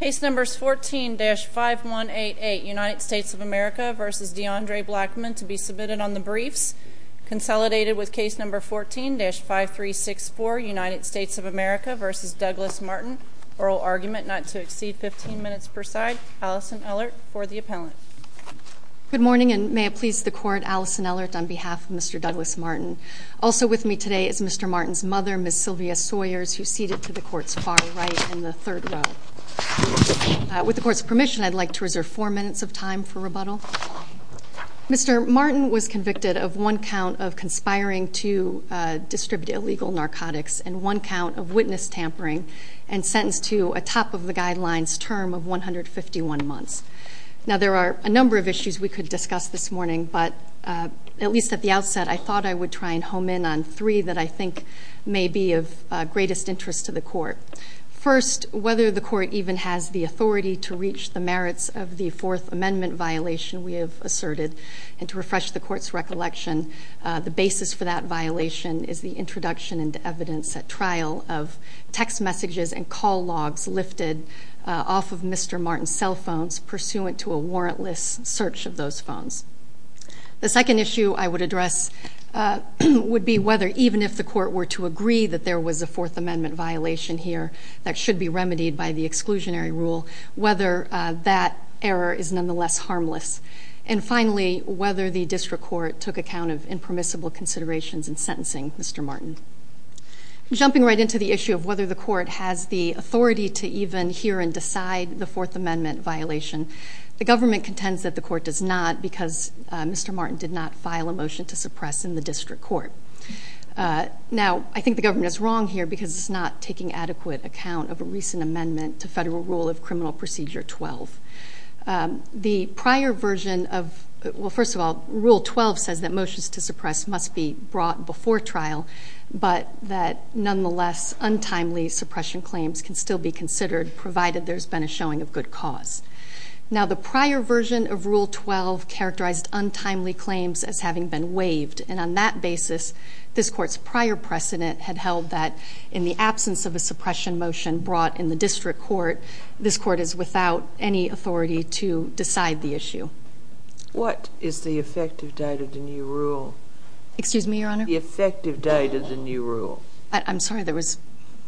Case No. 14-5188 United States of America v. DeAndre Blackman to be submitted on the briefs. Consolidated with Case No. 14-5364 United States of America v. Douglas Martin. Oral argument not to exceed 15 minutes per side. Alison Ellert for the appellant. Good morning, and may it please the Court, Alison Ellert on behalf of Mr. Douglas Martin. Also with me today is Mr. Martin's mother, Ms. Sylvia Sawyers, who's seated to the Court's far right in the third row. With the Court's permission, I'd like to reserve four minutes of time for rebuttal. Mr. Martin was convicted of one count of conspiring to distribute illegal narcotics and one count of witness tampering and sentenced to a top-of-the-guidelines term of 151 months. Now, there are a number of issues we could discuss this morning, but at least at the outset I thought I would try and home in on three that I think may be of greatest interest to the Court. First, whether the Court even has the authority to reach the merits of the Fourth Amendment violation we have asserted, and to refresh the Court's recollection, the basis for that violation is the introduction into evidence at trial of text messages and call logs lifted off of Mr. Martin's cell phones pursuant to a warrantless search of those phones. The second issue I would address would be whether, even if the Court were to agree that there was a Fourth Amendment violation here that should be remedied by the exclusionary rule, whether that error is nonetheless harmless. And finally, whether the District Court took account of impermissible considerations in sentencing Mr. Martin. Jumping right into the issue of whether the Court has the authority to even hear and decide the Fourth Amendment violation, the government contends that the Court does not because Mr. Martin did not file a motion to suppress in the District Court. Now, I think the government is wrong here because it's not taking adequate account of a recent amendment to Federal Rule of Criminal Procedure 12. The prior version of, well, first of all, Rule 12 says that motions to suppress must be brought before trial, but that nonetheless, untimely suppression claims can still be considered, provided there's been a showing of good cause. Now, the prior version of Rule 12 characterized untimely claims as having been waived, and on that basis, this Court's prior precedent had held that in the absence of a suppression motion brought in the District Court, this Court is without any authority to decide the issue. What is the effective date of the new rule? Excuse me, Your Honor? The effective date of the new rule. I'm sorry, there was...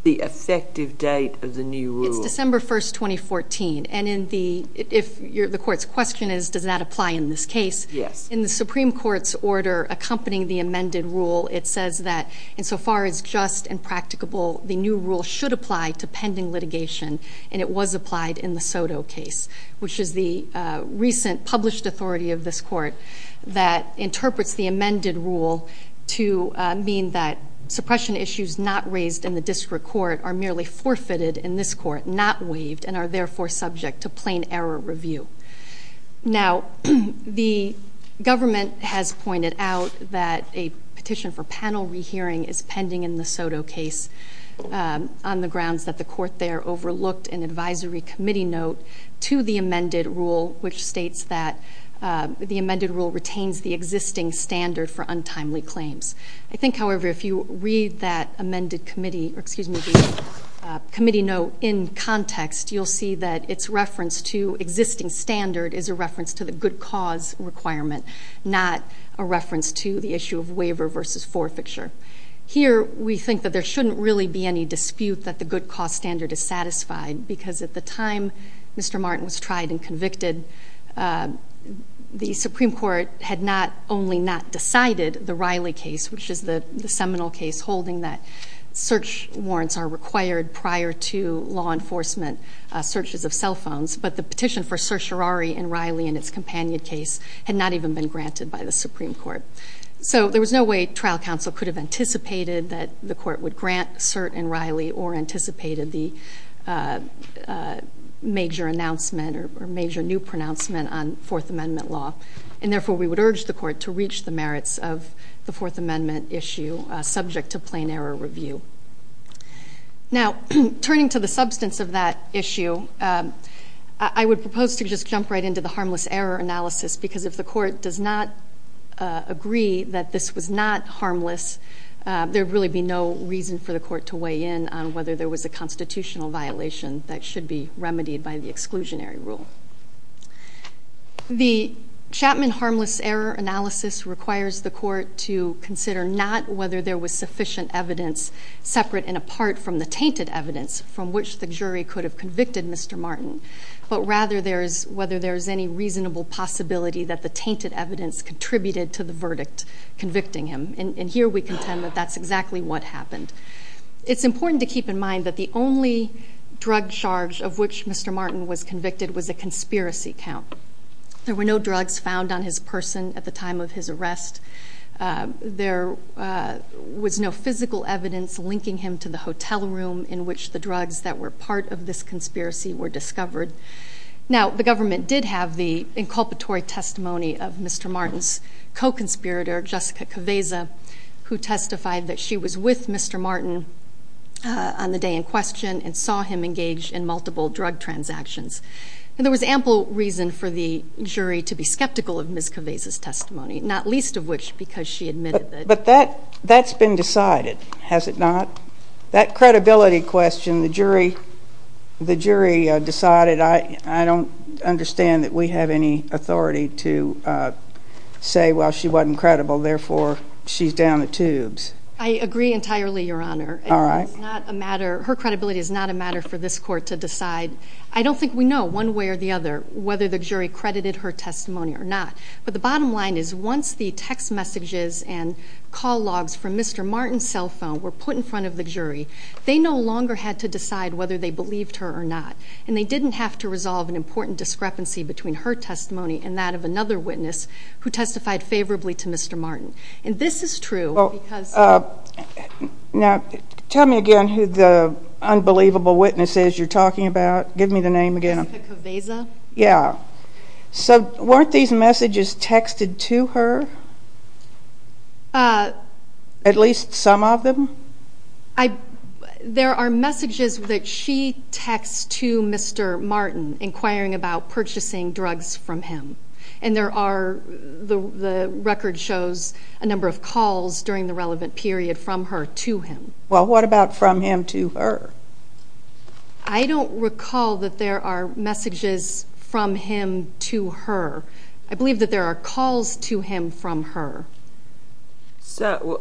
The effective date of the new rule. It's December 1, 2014, and if the Court's question is, does that apply in this case? Yes. In the Supreme Court's order accompanying the amended rule, it says that, insofar as just and practicable, the new rule should apply to pending litigation, and it was applied in the Soto case, which is the recent published authority of this Court that interprets the amended rule to mean that suppression issues not raised in the District Court are merely forfeited in this Court, not waived, and are therefore subject to plain error review. Now, the government has pointed out that a petition for panel rehearing is pending in the Soto case on the grounds that the Court there overlooked an advisory committee note to the amended rule, which states that the amended rule retains the existing standard for untimely claims. I think, however, if you read that amended committee, or excuse me, the committee note in context, you'll see that its reference to existing standard is a reference to the good cause requirement, not a reference to the issue of waiver versus forfeiture. Here, we think that there shouldn't really be any dispute that the good cause standard is satisfied because at the time Mr. Martin was tried and convicted, the Supreme Court had not only not decided the Riley case, which is the seminal case holding that search warrants are required prior to law enforcement searches of cell phones, but the petition for certiorari in Riley and its companion case had not even been granted by the Supreme Court. So there was no way trial counsel could have anticipated that the Court would grant cert in Riley or anticipated the major announcement or major new pronouncement on Fourth Amendment law, and therefore we would urge the Court to reach the merits of the Fourth Amendment issue subject to plain error review. Now, turning to the substance of that issue, I would propose to just jump right into the harmless error analysis because if the Court does not agree that this was not harmless, there would really be no reason for the Court to weigh in on whether there was a constitutional violation that should be remedied by the exclusionary rule. The Chapman harmless error analysis requires the Court to consider not whether there was sufficient evidence separate and apart from the tainted evidence from which the jury could have convicted Mr. Martin, but rather whether there is any reasonable possibility that the tainted evidence contributed to the verdict convicting him, and here we contend that that's exactly what happened. It's important to keep in mind that the only drug charge of which Mr. Martin was convicted was a conspiracy count. There were no drugs found on his person at the time of his arrest. There was no physical evidence linking him to the hotel room in which the drugs that were part of this conspiracy were discovered. Now, the government did have the inculpatory testimony of Mr. Martin's co-conspirator, Jessica Caveza, who testified that she was with Mr. Martin on the day in question and saw him engage in multiple drug transactions. There was ample reason for the jury to be skeptical of Ms. Caveza's testimony, not least of which because she admitted that But that's been decided, has it not? That credibility question, the jury decided, I don't understand that we have any authority to say, well, she wasn't credible, therefore she's down the tubes. I agree entirely, Your Honor. All right. Her credibility is not a matter for this court to decide. I don't think we know one way or the other whether the jury credited her testimony or not, but the bottom line is once the text messages and call logs from Mr. Martin's cell phone were put in front of the jury, they no longer had to decide whether they believed her or not, and they didn't have to resolve an important discrepancy between her testimony and that of another witness who testified favorably to Mr. Martin. And this is true because Now, tell me again who the unbelievable witness is you're talking about. Give me the name again. Jessica Caveza. Yeah. So weren't these messages texted to her? At least some of them? There are messages that she texts to Mr. Martin inquiring about purchasing drugs from him, and the record shows a number of calls during the relevant period from her to him. Well, what about from him to her? I don't recall that there are messages from him to her. I believe that there are calls to him from her. So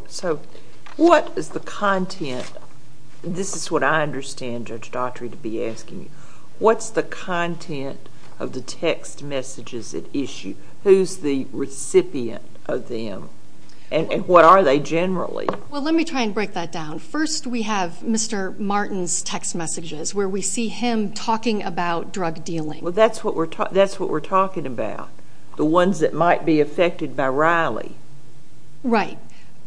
what is the content? This is what I understand Judge Daughtry to be asking you. What's the content of the text messages at issue? Who's the recipient of them, and what are they generally? Well, let me try and break that down. First, we have Mr. Martin's text messages where we see him talking about drug dealing. Well, that's what we're talking about, the ones that might be affected by Riley. Right.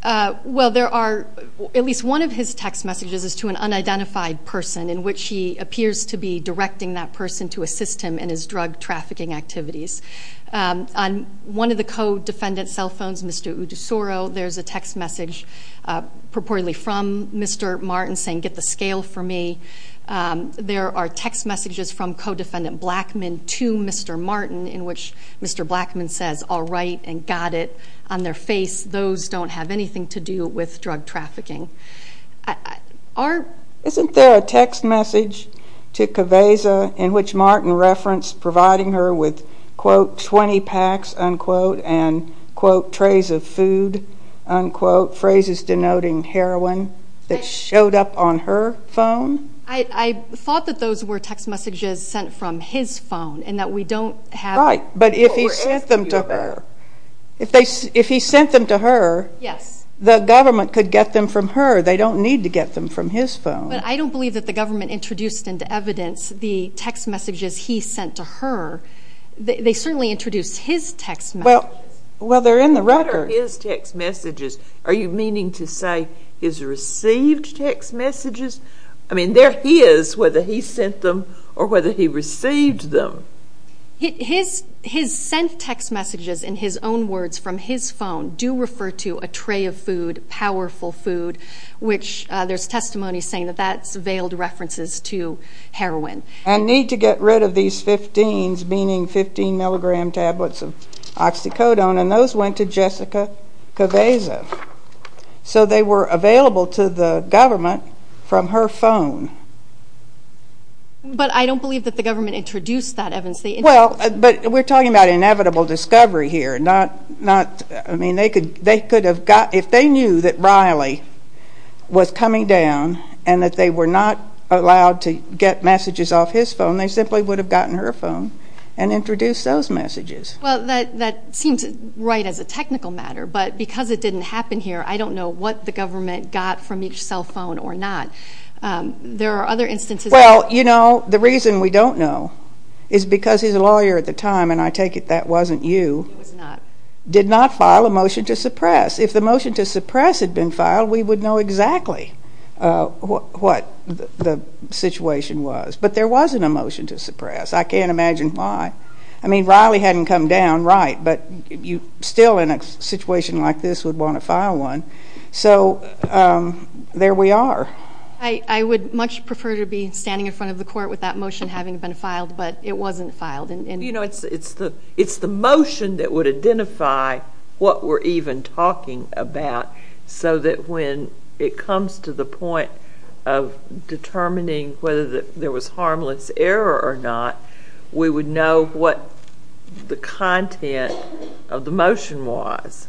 Well, there are at least one of his text messages is to an unidentified person in which he appears to be directing that person to assist him in his drug trafficking activities. On one of the co-defendant's cell phones, Mr. Udusoro, there's a text message purportedly from Mr. Martin saying, Get the scale for me. There are text messages from co-defendant Blackman to Mr. Martin in which Mr. Blackman says, All right, and got it. On their face, those don't have anything to do with drug trafficking. Isn't there a text message to Kaveza in which Martin referenced providing her with quote, 20 packs, unquote, and quote, trays of food, unquote, phrases denoting heroin that showed up on her phone? I thought that those were text messages sent from his phone and that we don't have Right, but if he sent them to her, the government could get them from her. They don't need to get them from his phone. But I don't believe that the government introduced into evidence the text messages he sent to her. They certainly introduced his text messages. Well, they're in the record. What are his text messages? Are you meaning to say his received text messages? I mean, they're his whether he sent them or whether he received them. His sent text messages in his own words from his phone do refer to a tray of food, powerful food, which there's testimony saying that that's veiled references to heroin. And need to get rid of these 15s, meaning 15 milligram tablets of oxycodone, and those went to Jessica Kaveza. So they were available to the government from her phone. But I don't believe that the government introduced that evidence. Well, but we're talking about inevitable discovery here, not, I mean, they could have got, if they knew that Riley was coming down and that they were not allowed to get messages off his phone, they simply would have gotten her phone and introduced those messages. Well, that seems right as a technical matter. But because it didn't happen here, I don't know what the government got from each cell phone or not. There are other instances. Well, you know, the reason we don't know is because his lawyer at the time, and I take it that wasn't you, did not file a motion to suppress. If the motion to suppress had been filed, we would know exactly what the situation was. But there wasn't a motion to suppress. I can't imagine why. I mean, Riley hadn't come down, right, but still in a situation like this would want to file one. So there we are. I would much prefer to be standing in front of the court with that motion having been filed, but it wasn't filed. You know, it's the motion that would identify what we're even talking about so that when it comes to the point of determining whether there was harmless error or not, we would know what the content of the motion was.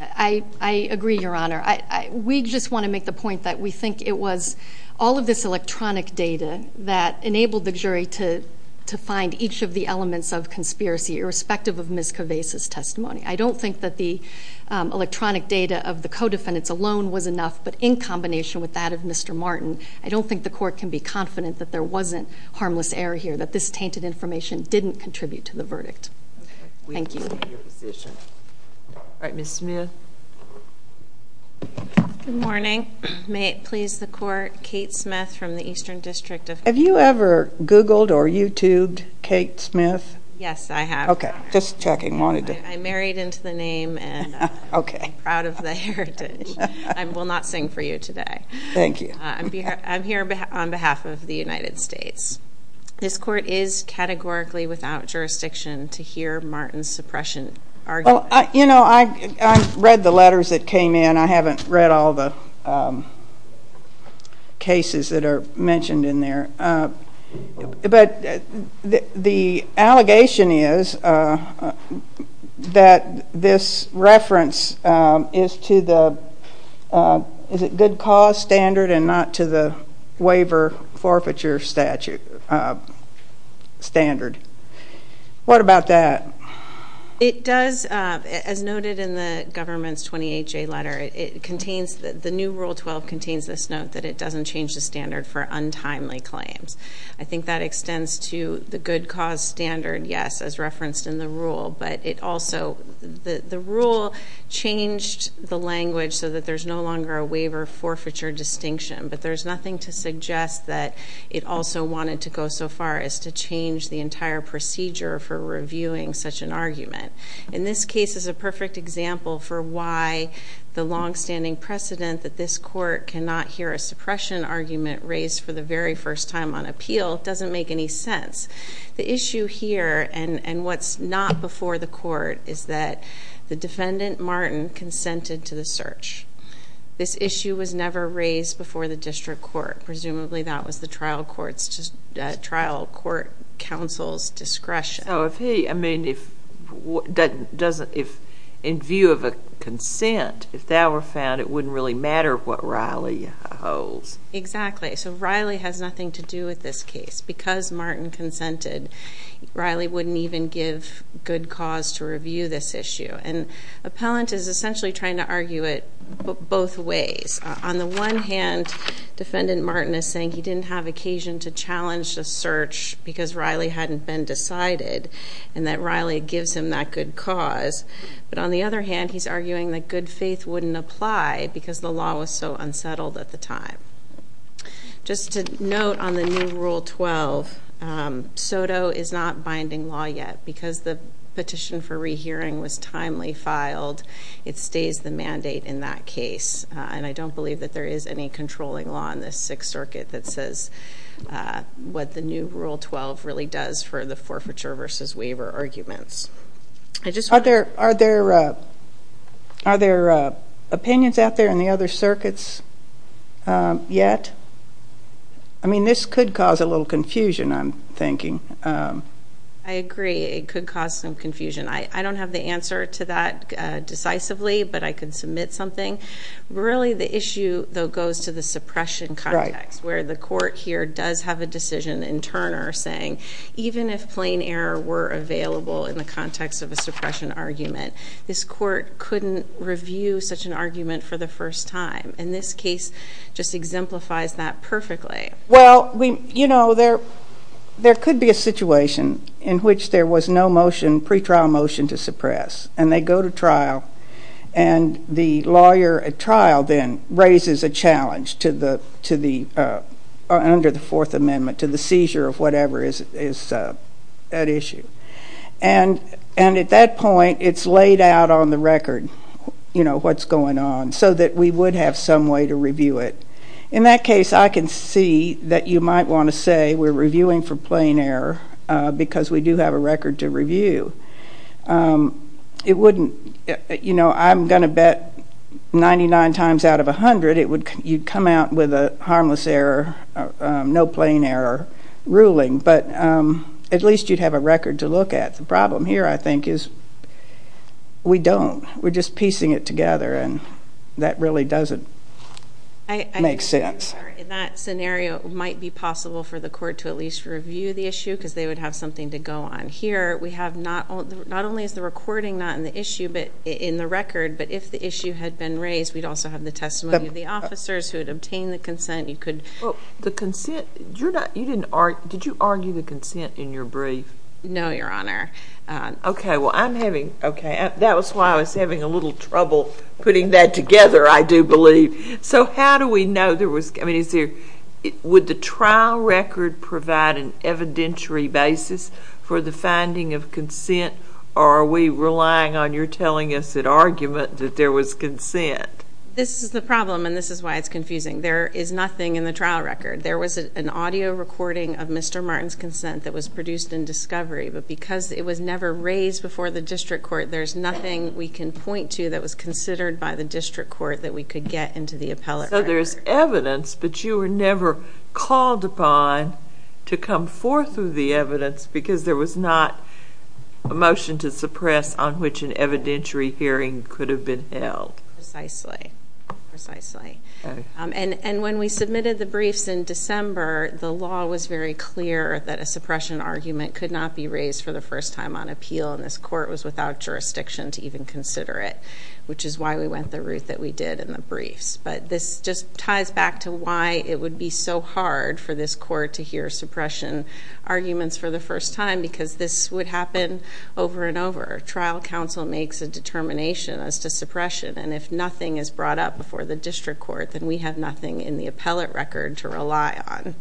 I agree, Your Honor. We just want to make the point that we think it was all of this electronic data that enabled the jury to find each of the elements of conspiracy, irrespective of Ms. Cavese's testimony. I don't think that the electronic data of the co-defendants alone was enough, but in combination with that of Mr. Martin, I don't think the court can be confident that there wasn't harmless error here, that this tainted information didn't contribute to the verdict. Thank you. All right, Ms. Smith. Good morning. Good morning. May it please the court, Kate Smith from the Eastern District of California. Have you ever Googled or YouTubed Kate Smith? Yes, I have. Okay, just checking. I married into the name and I'm proud of the heritage. I will not sing for you today. Thank you. I'm here on behalf of the United States. This court is categorically without jurisdiction to hear Martin's suppression argument. Well, you know, I read the letters that came in. I haven't read all the cases that are mentioned in there. But the allegation is that this reference is to the good cause standard and not to the waiver forfeiture statute standard. What about that? It does, as noted in the government's 28-J letter, the new Rule 12 contains this note that it doesn't change the standard for untimely claims. I think that extends to the good cause standard, yes, as referenced in the rule. But the rule changed the language so that there's no longer a waiver forfeiture distinction. But there's nothing to suggest that it also wanted to go so far as to change the entire procedure for reviewing such an argument. In this case, it's a perfect example for why the longstanding precedent that this court cannot hear a suppression argument raised for the very first time on appeal doesn't make any sense. The issue here and what's not before the court is that the defendant, Martin, consented to the search. This issue was never raised before the district court. Presumably that was the trial court counsel's discretion. So if he, I mean, if in view of a consent, if that were found, it wouldn't really matter what Riley holds. Exactly. So Riley has nothing to do with this case. Because Martin consented, Riley wouldn't even give good cause to review this issue. And appellant is essentially trying to argue it both ways. On the one hand, defendant Martin is saying he didn't have occasion to challenge the search because Riley hadn't been decided and that Riley gives him that good cause. But on the other hand, he's arguing that good faith wouldn't apply because the law was so unsettled at the time. Just to note on the new Rule 12, SOTO is not binding law yet. Because the petition for rehearing was timely filed, it stays the mandate in that case. And I don't believe that there is any controlling law in this Sixth Circuit that says what the new Rule 12 really does for the forfeiture versus waiver arguments. Are there opinions out there in the other circuits yet? I mean, this could cause a little confusion, I'm thinking. I agree. It could cause some confusion. I don't have the answer to that decisively, but I could submit something. Really, the issue, though, goes to the suppression context where the court here does have a decision in Turner saying even if plain error were available in the context of a suppression argument, this court couldn't review such an argument for the first time. And this case just exemplifies that perfectly. Well, you know, there could be a situation in which there was no motion, pre-trial motion, to suppress, and they go to trial and the lawyer at trial then raises a challenge under the Fourth Amendment to the seizure of whatever is at issue. And at that point, it's laid out on the record, you know, what's going on, so that we would have some way to review it. In that case, I can see that you might want to say we're reviewing for plain error because we do have a record to review. It wouldn't, you know, I'm going to bet 99 times out of 100 you'd come out with a harmless error, no plain error ruling, but at least you'd have a record to look at. The problem here, I think, is we don't. We're just piecing it together, and that really doesn't make sense. In that scenario, it might be possible for the court to at least review the issue because they would have something to go on. Here we have not only is the recording not in the issue but in the record, but if the issue had been raised, we'd also have the testimony of the officers who had obtained the consent. Well, the consent, did you argue the consent in your brief? No, Your Honor. Okay, well, I'm having, okay, that was why I was having a little trouble putting that together, I do believe. So how do we know there was, I mean, is there, would the trial record provide an evidentiary basis for the finding of consent, or are we relying on your telling us at argument that there was consent? This is the problem, and this is why it's confusing. There is nothing in the trial record. There was an audio recording of Mr. Martin's consent that was produced in discovery, but because it was never raised before the district court, there's nothing we can point to that was considered by the district court that we could get into the appellate record. So there's evidence, but you were never called upon to come forth with the evidence because there was not a motion to suppress on which an evidentiary hearing could have been held. Precisely, precisely. And when we submitted the briefs in December, the law was very clear that a suppression argument could not be raised for the first time on appeal, and this court was without jurisdiction to even consider it, which is why we went the route that we did in the briefs. But this just ties back to why it would be so hard for this court to hear suppression arguments for the first time, because this would happen over and over. Trial counsel makes a determination as to suppression, and if nothing is brought up before the district court, then we have nothing in the appellate record to rely on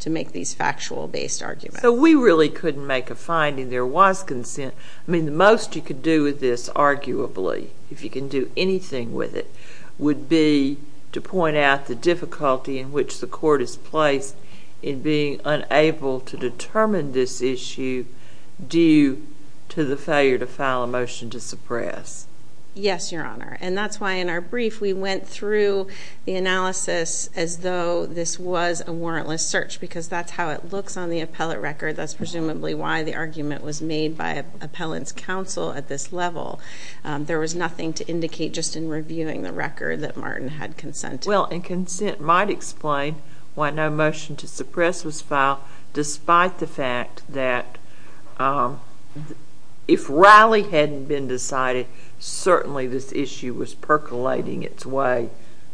to make these factual-based arguments. So we really couldn't make a finding. There was consent. I mean, the most you could do with this, arguably, if you can do anything with it, would be to point out the difficulty in which the court is placed in being unable to determine this issue due to the failure to file a motion to suppress. Yes, Your Honor. And that's why in our brief we went through the analysis as though this was a warrantless search, because that's how it looks on the appellate record. That's presumably why the argument was made by appellant's counsel at this level. There was nothing to indicate just in reviewing the record that Martin had consented. Well, and consent might explain why no motion to suppress was filed, despite the fact that if rally hadn't been decided, certainly this issue was percolating its way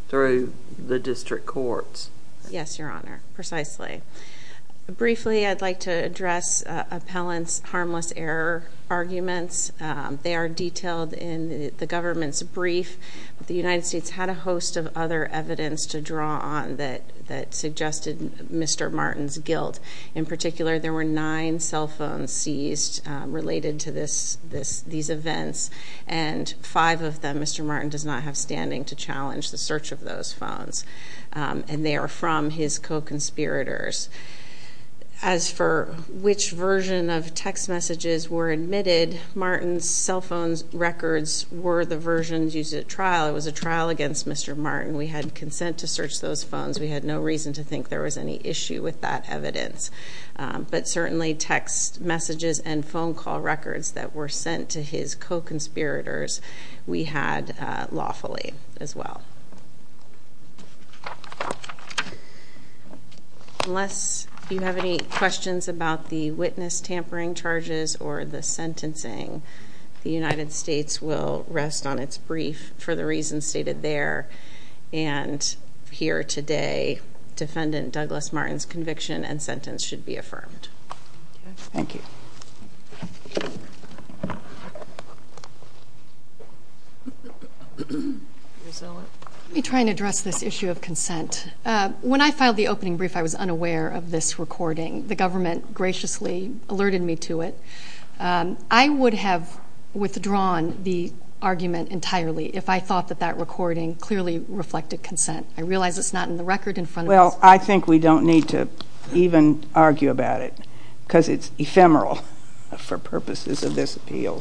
through the district courts. Yes, Your Honor, precisely. Briefly, I'd like to address appellant's harmless error arguments. They are detailed in the government's brief, but the United States had a host of other evidence to draw on that suggested Mr. Martin's guilt. In particular, there were nine cell phones seized related to these events, and five of them Mr. Martin does not have standing to challenge the search of those phones, and they are from his co-conspirators. As for which version of text messages were admitted, Martin's cell phone records were the versions used at trial. It was a trial against Mr. Martin. We had consent to search those phones. We had no reason to think there was any issue with that evidence. But certainly text messages and phone call records that were sent to his co-conspirators, we had lawfully as well. Unless you have any questions about the witness tampering charges or the sentencing, the United States will rest on its brief for the reasons stated there. And here today, defendant Douglas Martin's conviction and sentence should be affirmed. Thank you. Thank you. Let me try and address this issue of consent. When I filed the opening brief, I was unaware of this recording. The government graciously alerted me to it. I would have withdrawn the argument entirely if I thought that that recording clearly reflected consent. I realize it's not in the record in front of us. Well, I think we don't need to even argue about it because it's ephemeral for purposes of this appeal.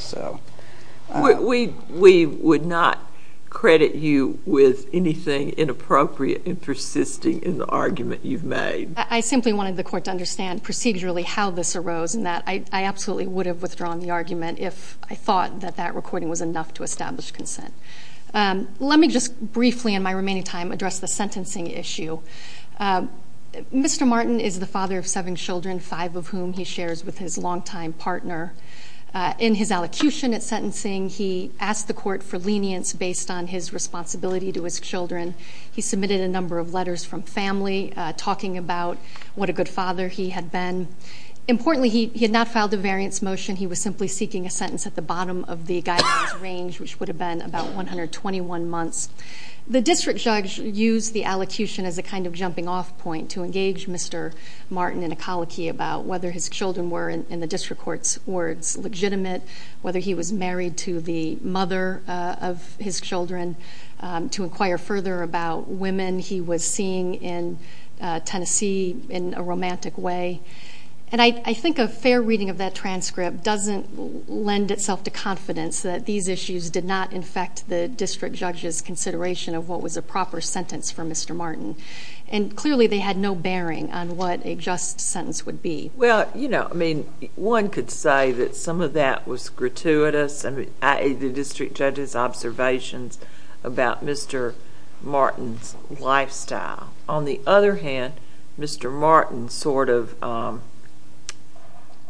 We would not credit you with anything inappropriate in persisting in the argument you've made. I simply wanted the court to understand procedurally how this arose in that I absolutely would have withdrawn the argument if I thought that that recording was enough to establish consent. Let me just briefly in my remaining time address the sentencing issue. Mr. Martin is the father of seven children, five of whom he shares with his longtime partner. In his allocution at sentencing, he asked the court for lenience based on his responsibility to his children. He submitted a number of letters from family talking about what a good father he had been. Importantly, he had not filed a variance motion. He was simply seeking a sentence at the bottom of the guidance range, which would have been about 121 months. The district judge used the allocution as a kind of jumping-off point to engage Mr. Martin in a colicky about whether his children were, in the district court's words, legitimate, whether he was married to the mother of his children. To inquire further about women he was seeing in Tennessee in a romantic way. And I think a fair reading of that transcript doesn't lend itself to confidence that these issues did not infect the district judge's consideration of what was a proper sentence for Mr. Martin. And clearly they had no bearing on what a just sentence would be. Well, you know, I mean, one could say that some of that was gratuitous, i.e., the district judge's observations about Mr. Martin's lifestyle. On the other hand, Mr. Martin sort of...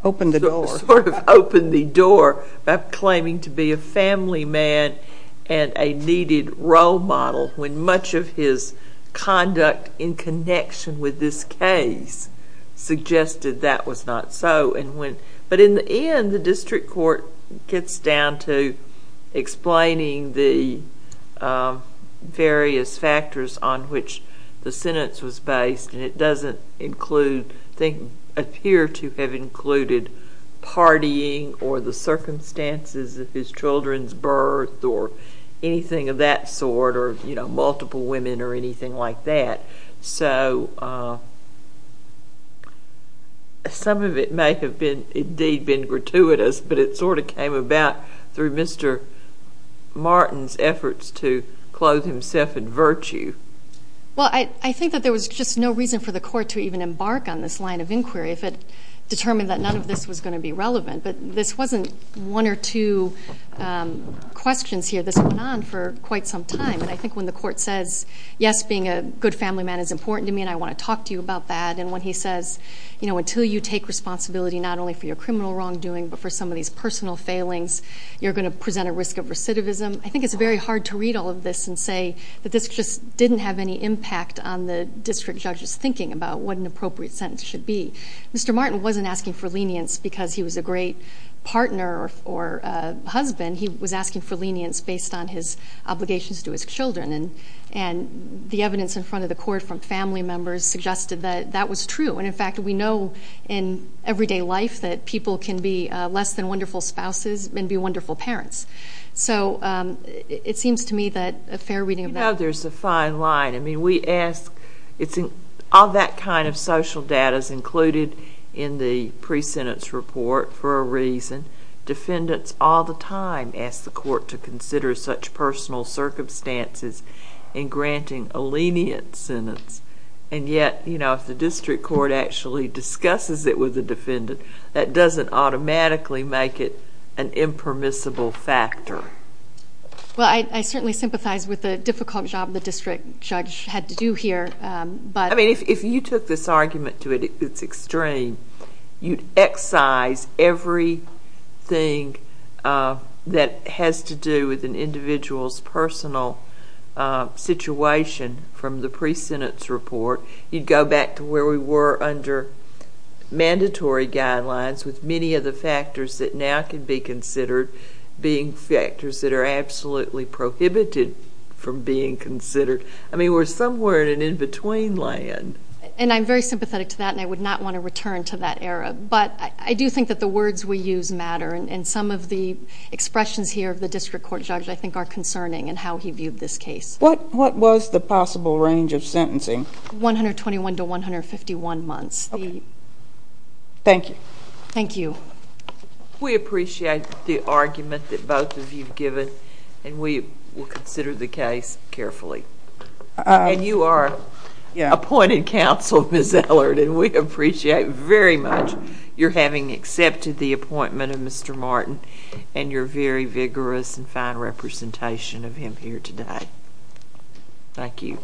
Opened the door. Sort of opened the door by claiming to be a family man and a needed role model when much of his conduct in connection with this case suggested that was not so. But in the end, the district court gets down to explaining the various factors on which the sentence was based. And it doesn't appear to have included partying or the circumstances of his children's birth or anything of that sort or, you know, multiple women or anything like that. So some of it may have indeed been gratuitous, but it sort of came about through Mr. Martin's efforts to clothe himself in virtue. Well, I think that there was just no reason for the court to even embark on this line of inquiry if it determined that none of this was going to be relevant. But this wasn't one or two questions here. This went on for quite some time. And I think when the court says, yes, being a good family man is important to me and I want to talk to you about that, and when he says, you know, until you take responsibility not only for your criminal wrongdoing but for some of these personal failings, you're going to present a risk of recidivism, I think it's very hard to read all of this and say that this just didn't have any impact on the district judge's thinking about what an appropriate sentence should be. Mr. Martin wasn't asking for lenience because he was a great partner or husband. He was asking for lenience based on his obligations to his children. And the evidence in front of the court from family members suggested that that was true. And, in fact, we know in everyday life that people can be less than wonderful spouses and be wonderful parents. So it seems to me that a fair reading of that. You know, there's a fine line. I mean, we ask all that kind of social data is included in the pre-sentence report for a reason. Defendants all the time ask the court to consider such personal circumstances in granting a lenient sentence. And yet, you know, if the district court actually discusses it with the defendant, that doesn't automatically make it an impermissible factor. Well, I certainly sympathize with the difficult job the district judge had to do here. I mean, if you took this argument to its extreme, you'd excise everything that has to do with an individual's personal situation from the pre-sentence report. You'd go back to where we were under mandatory guidelines with many of the factors that now can be considered being factors that are absolutely prohibited from being considered. I mean, we're somewhere in an in-between land. And I'm very sympathetic to that, and I would not want to return to that era. But I do think that the words we use matter, and some of the expressions here of the district court judge I think are concerning in how he viewed this case. What was the possible range of sentencing? 121 to 151 months. Thank you. Thank you. We appreciate the argument that both of you have given, and we will consider the case carefully. And you are appointed counsel, Ms. Ellard, and we appreciate very much your having accepted the appointment of Mr. Martin and your very vigorous and fine representation of him here today. Thank you.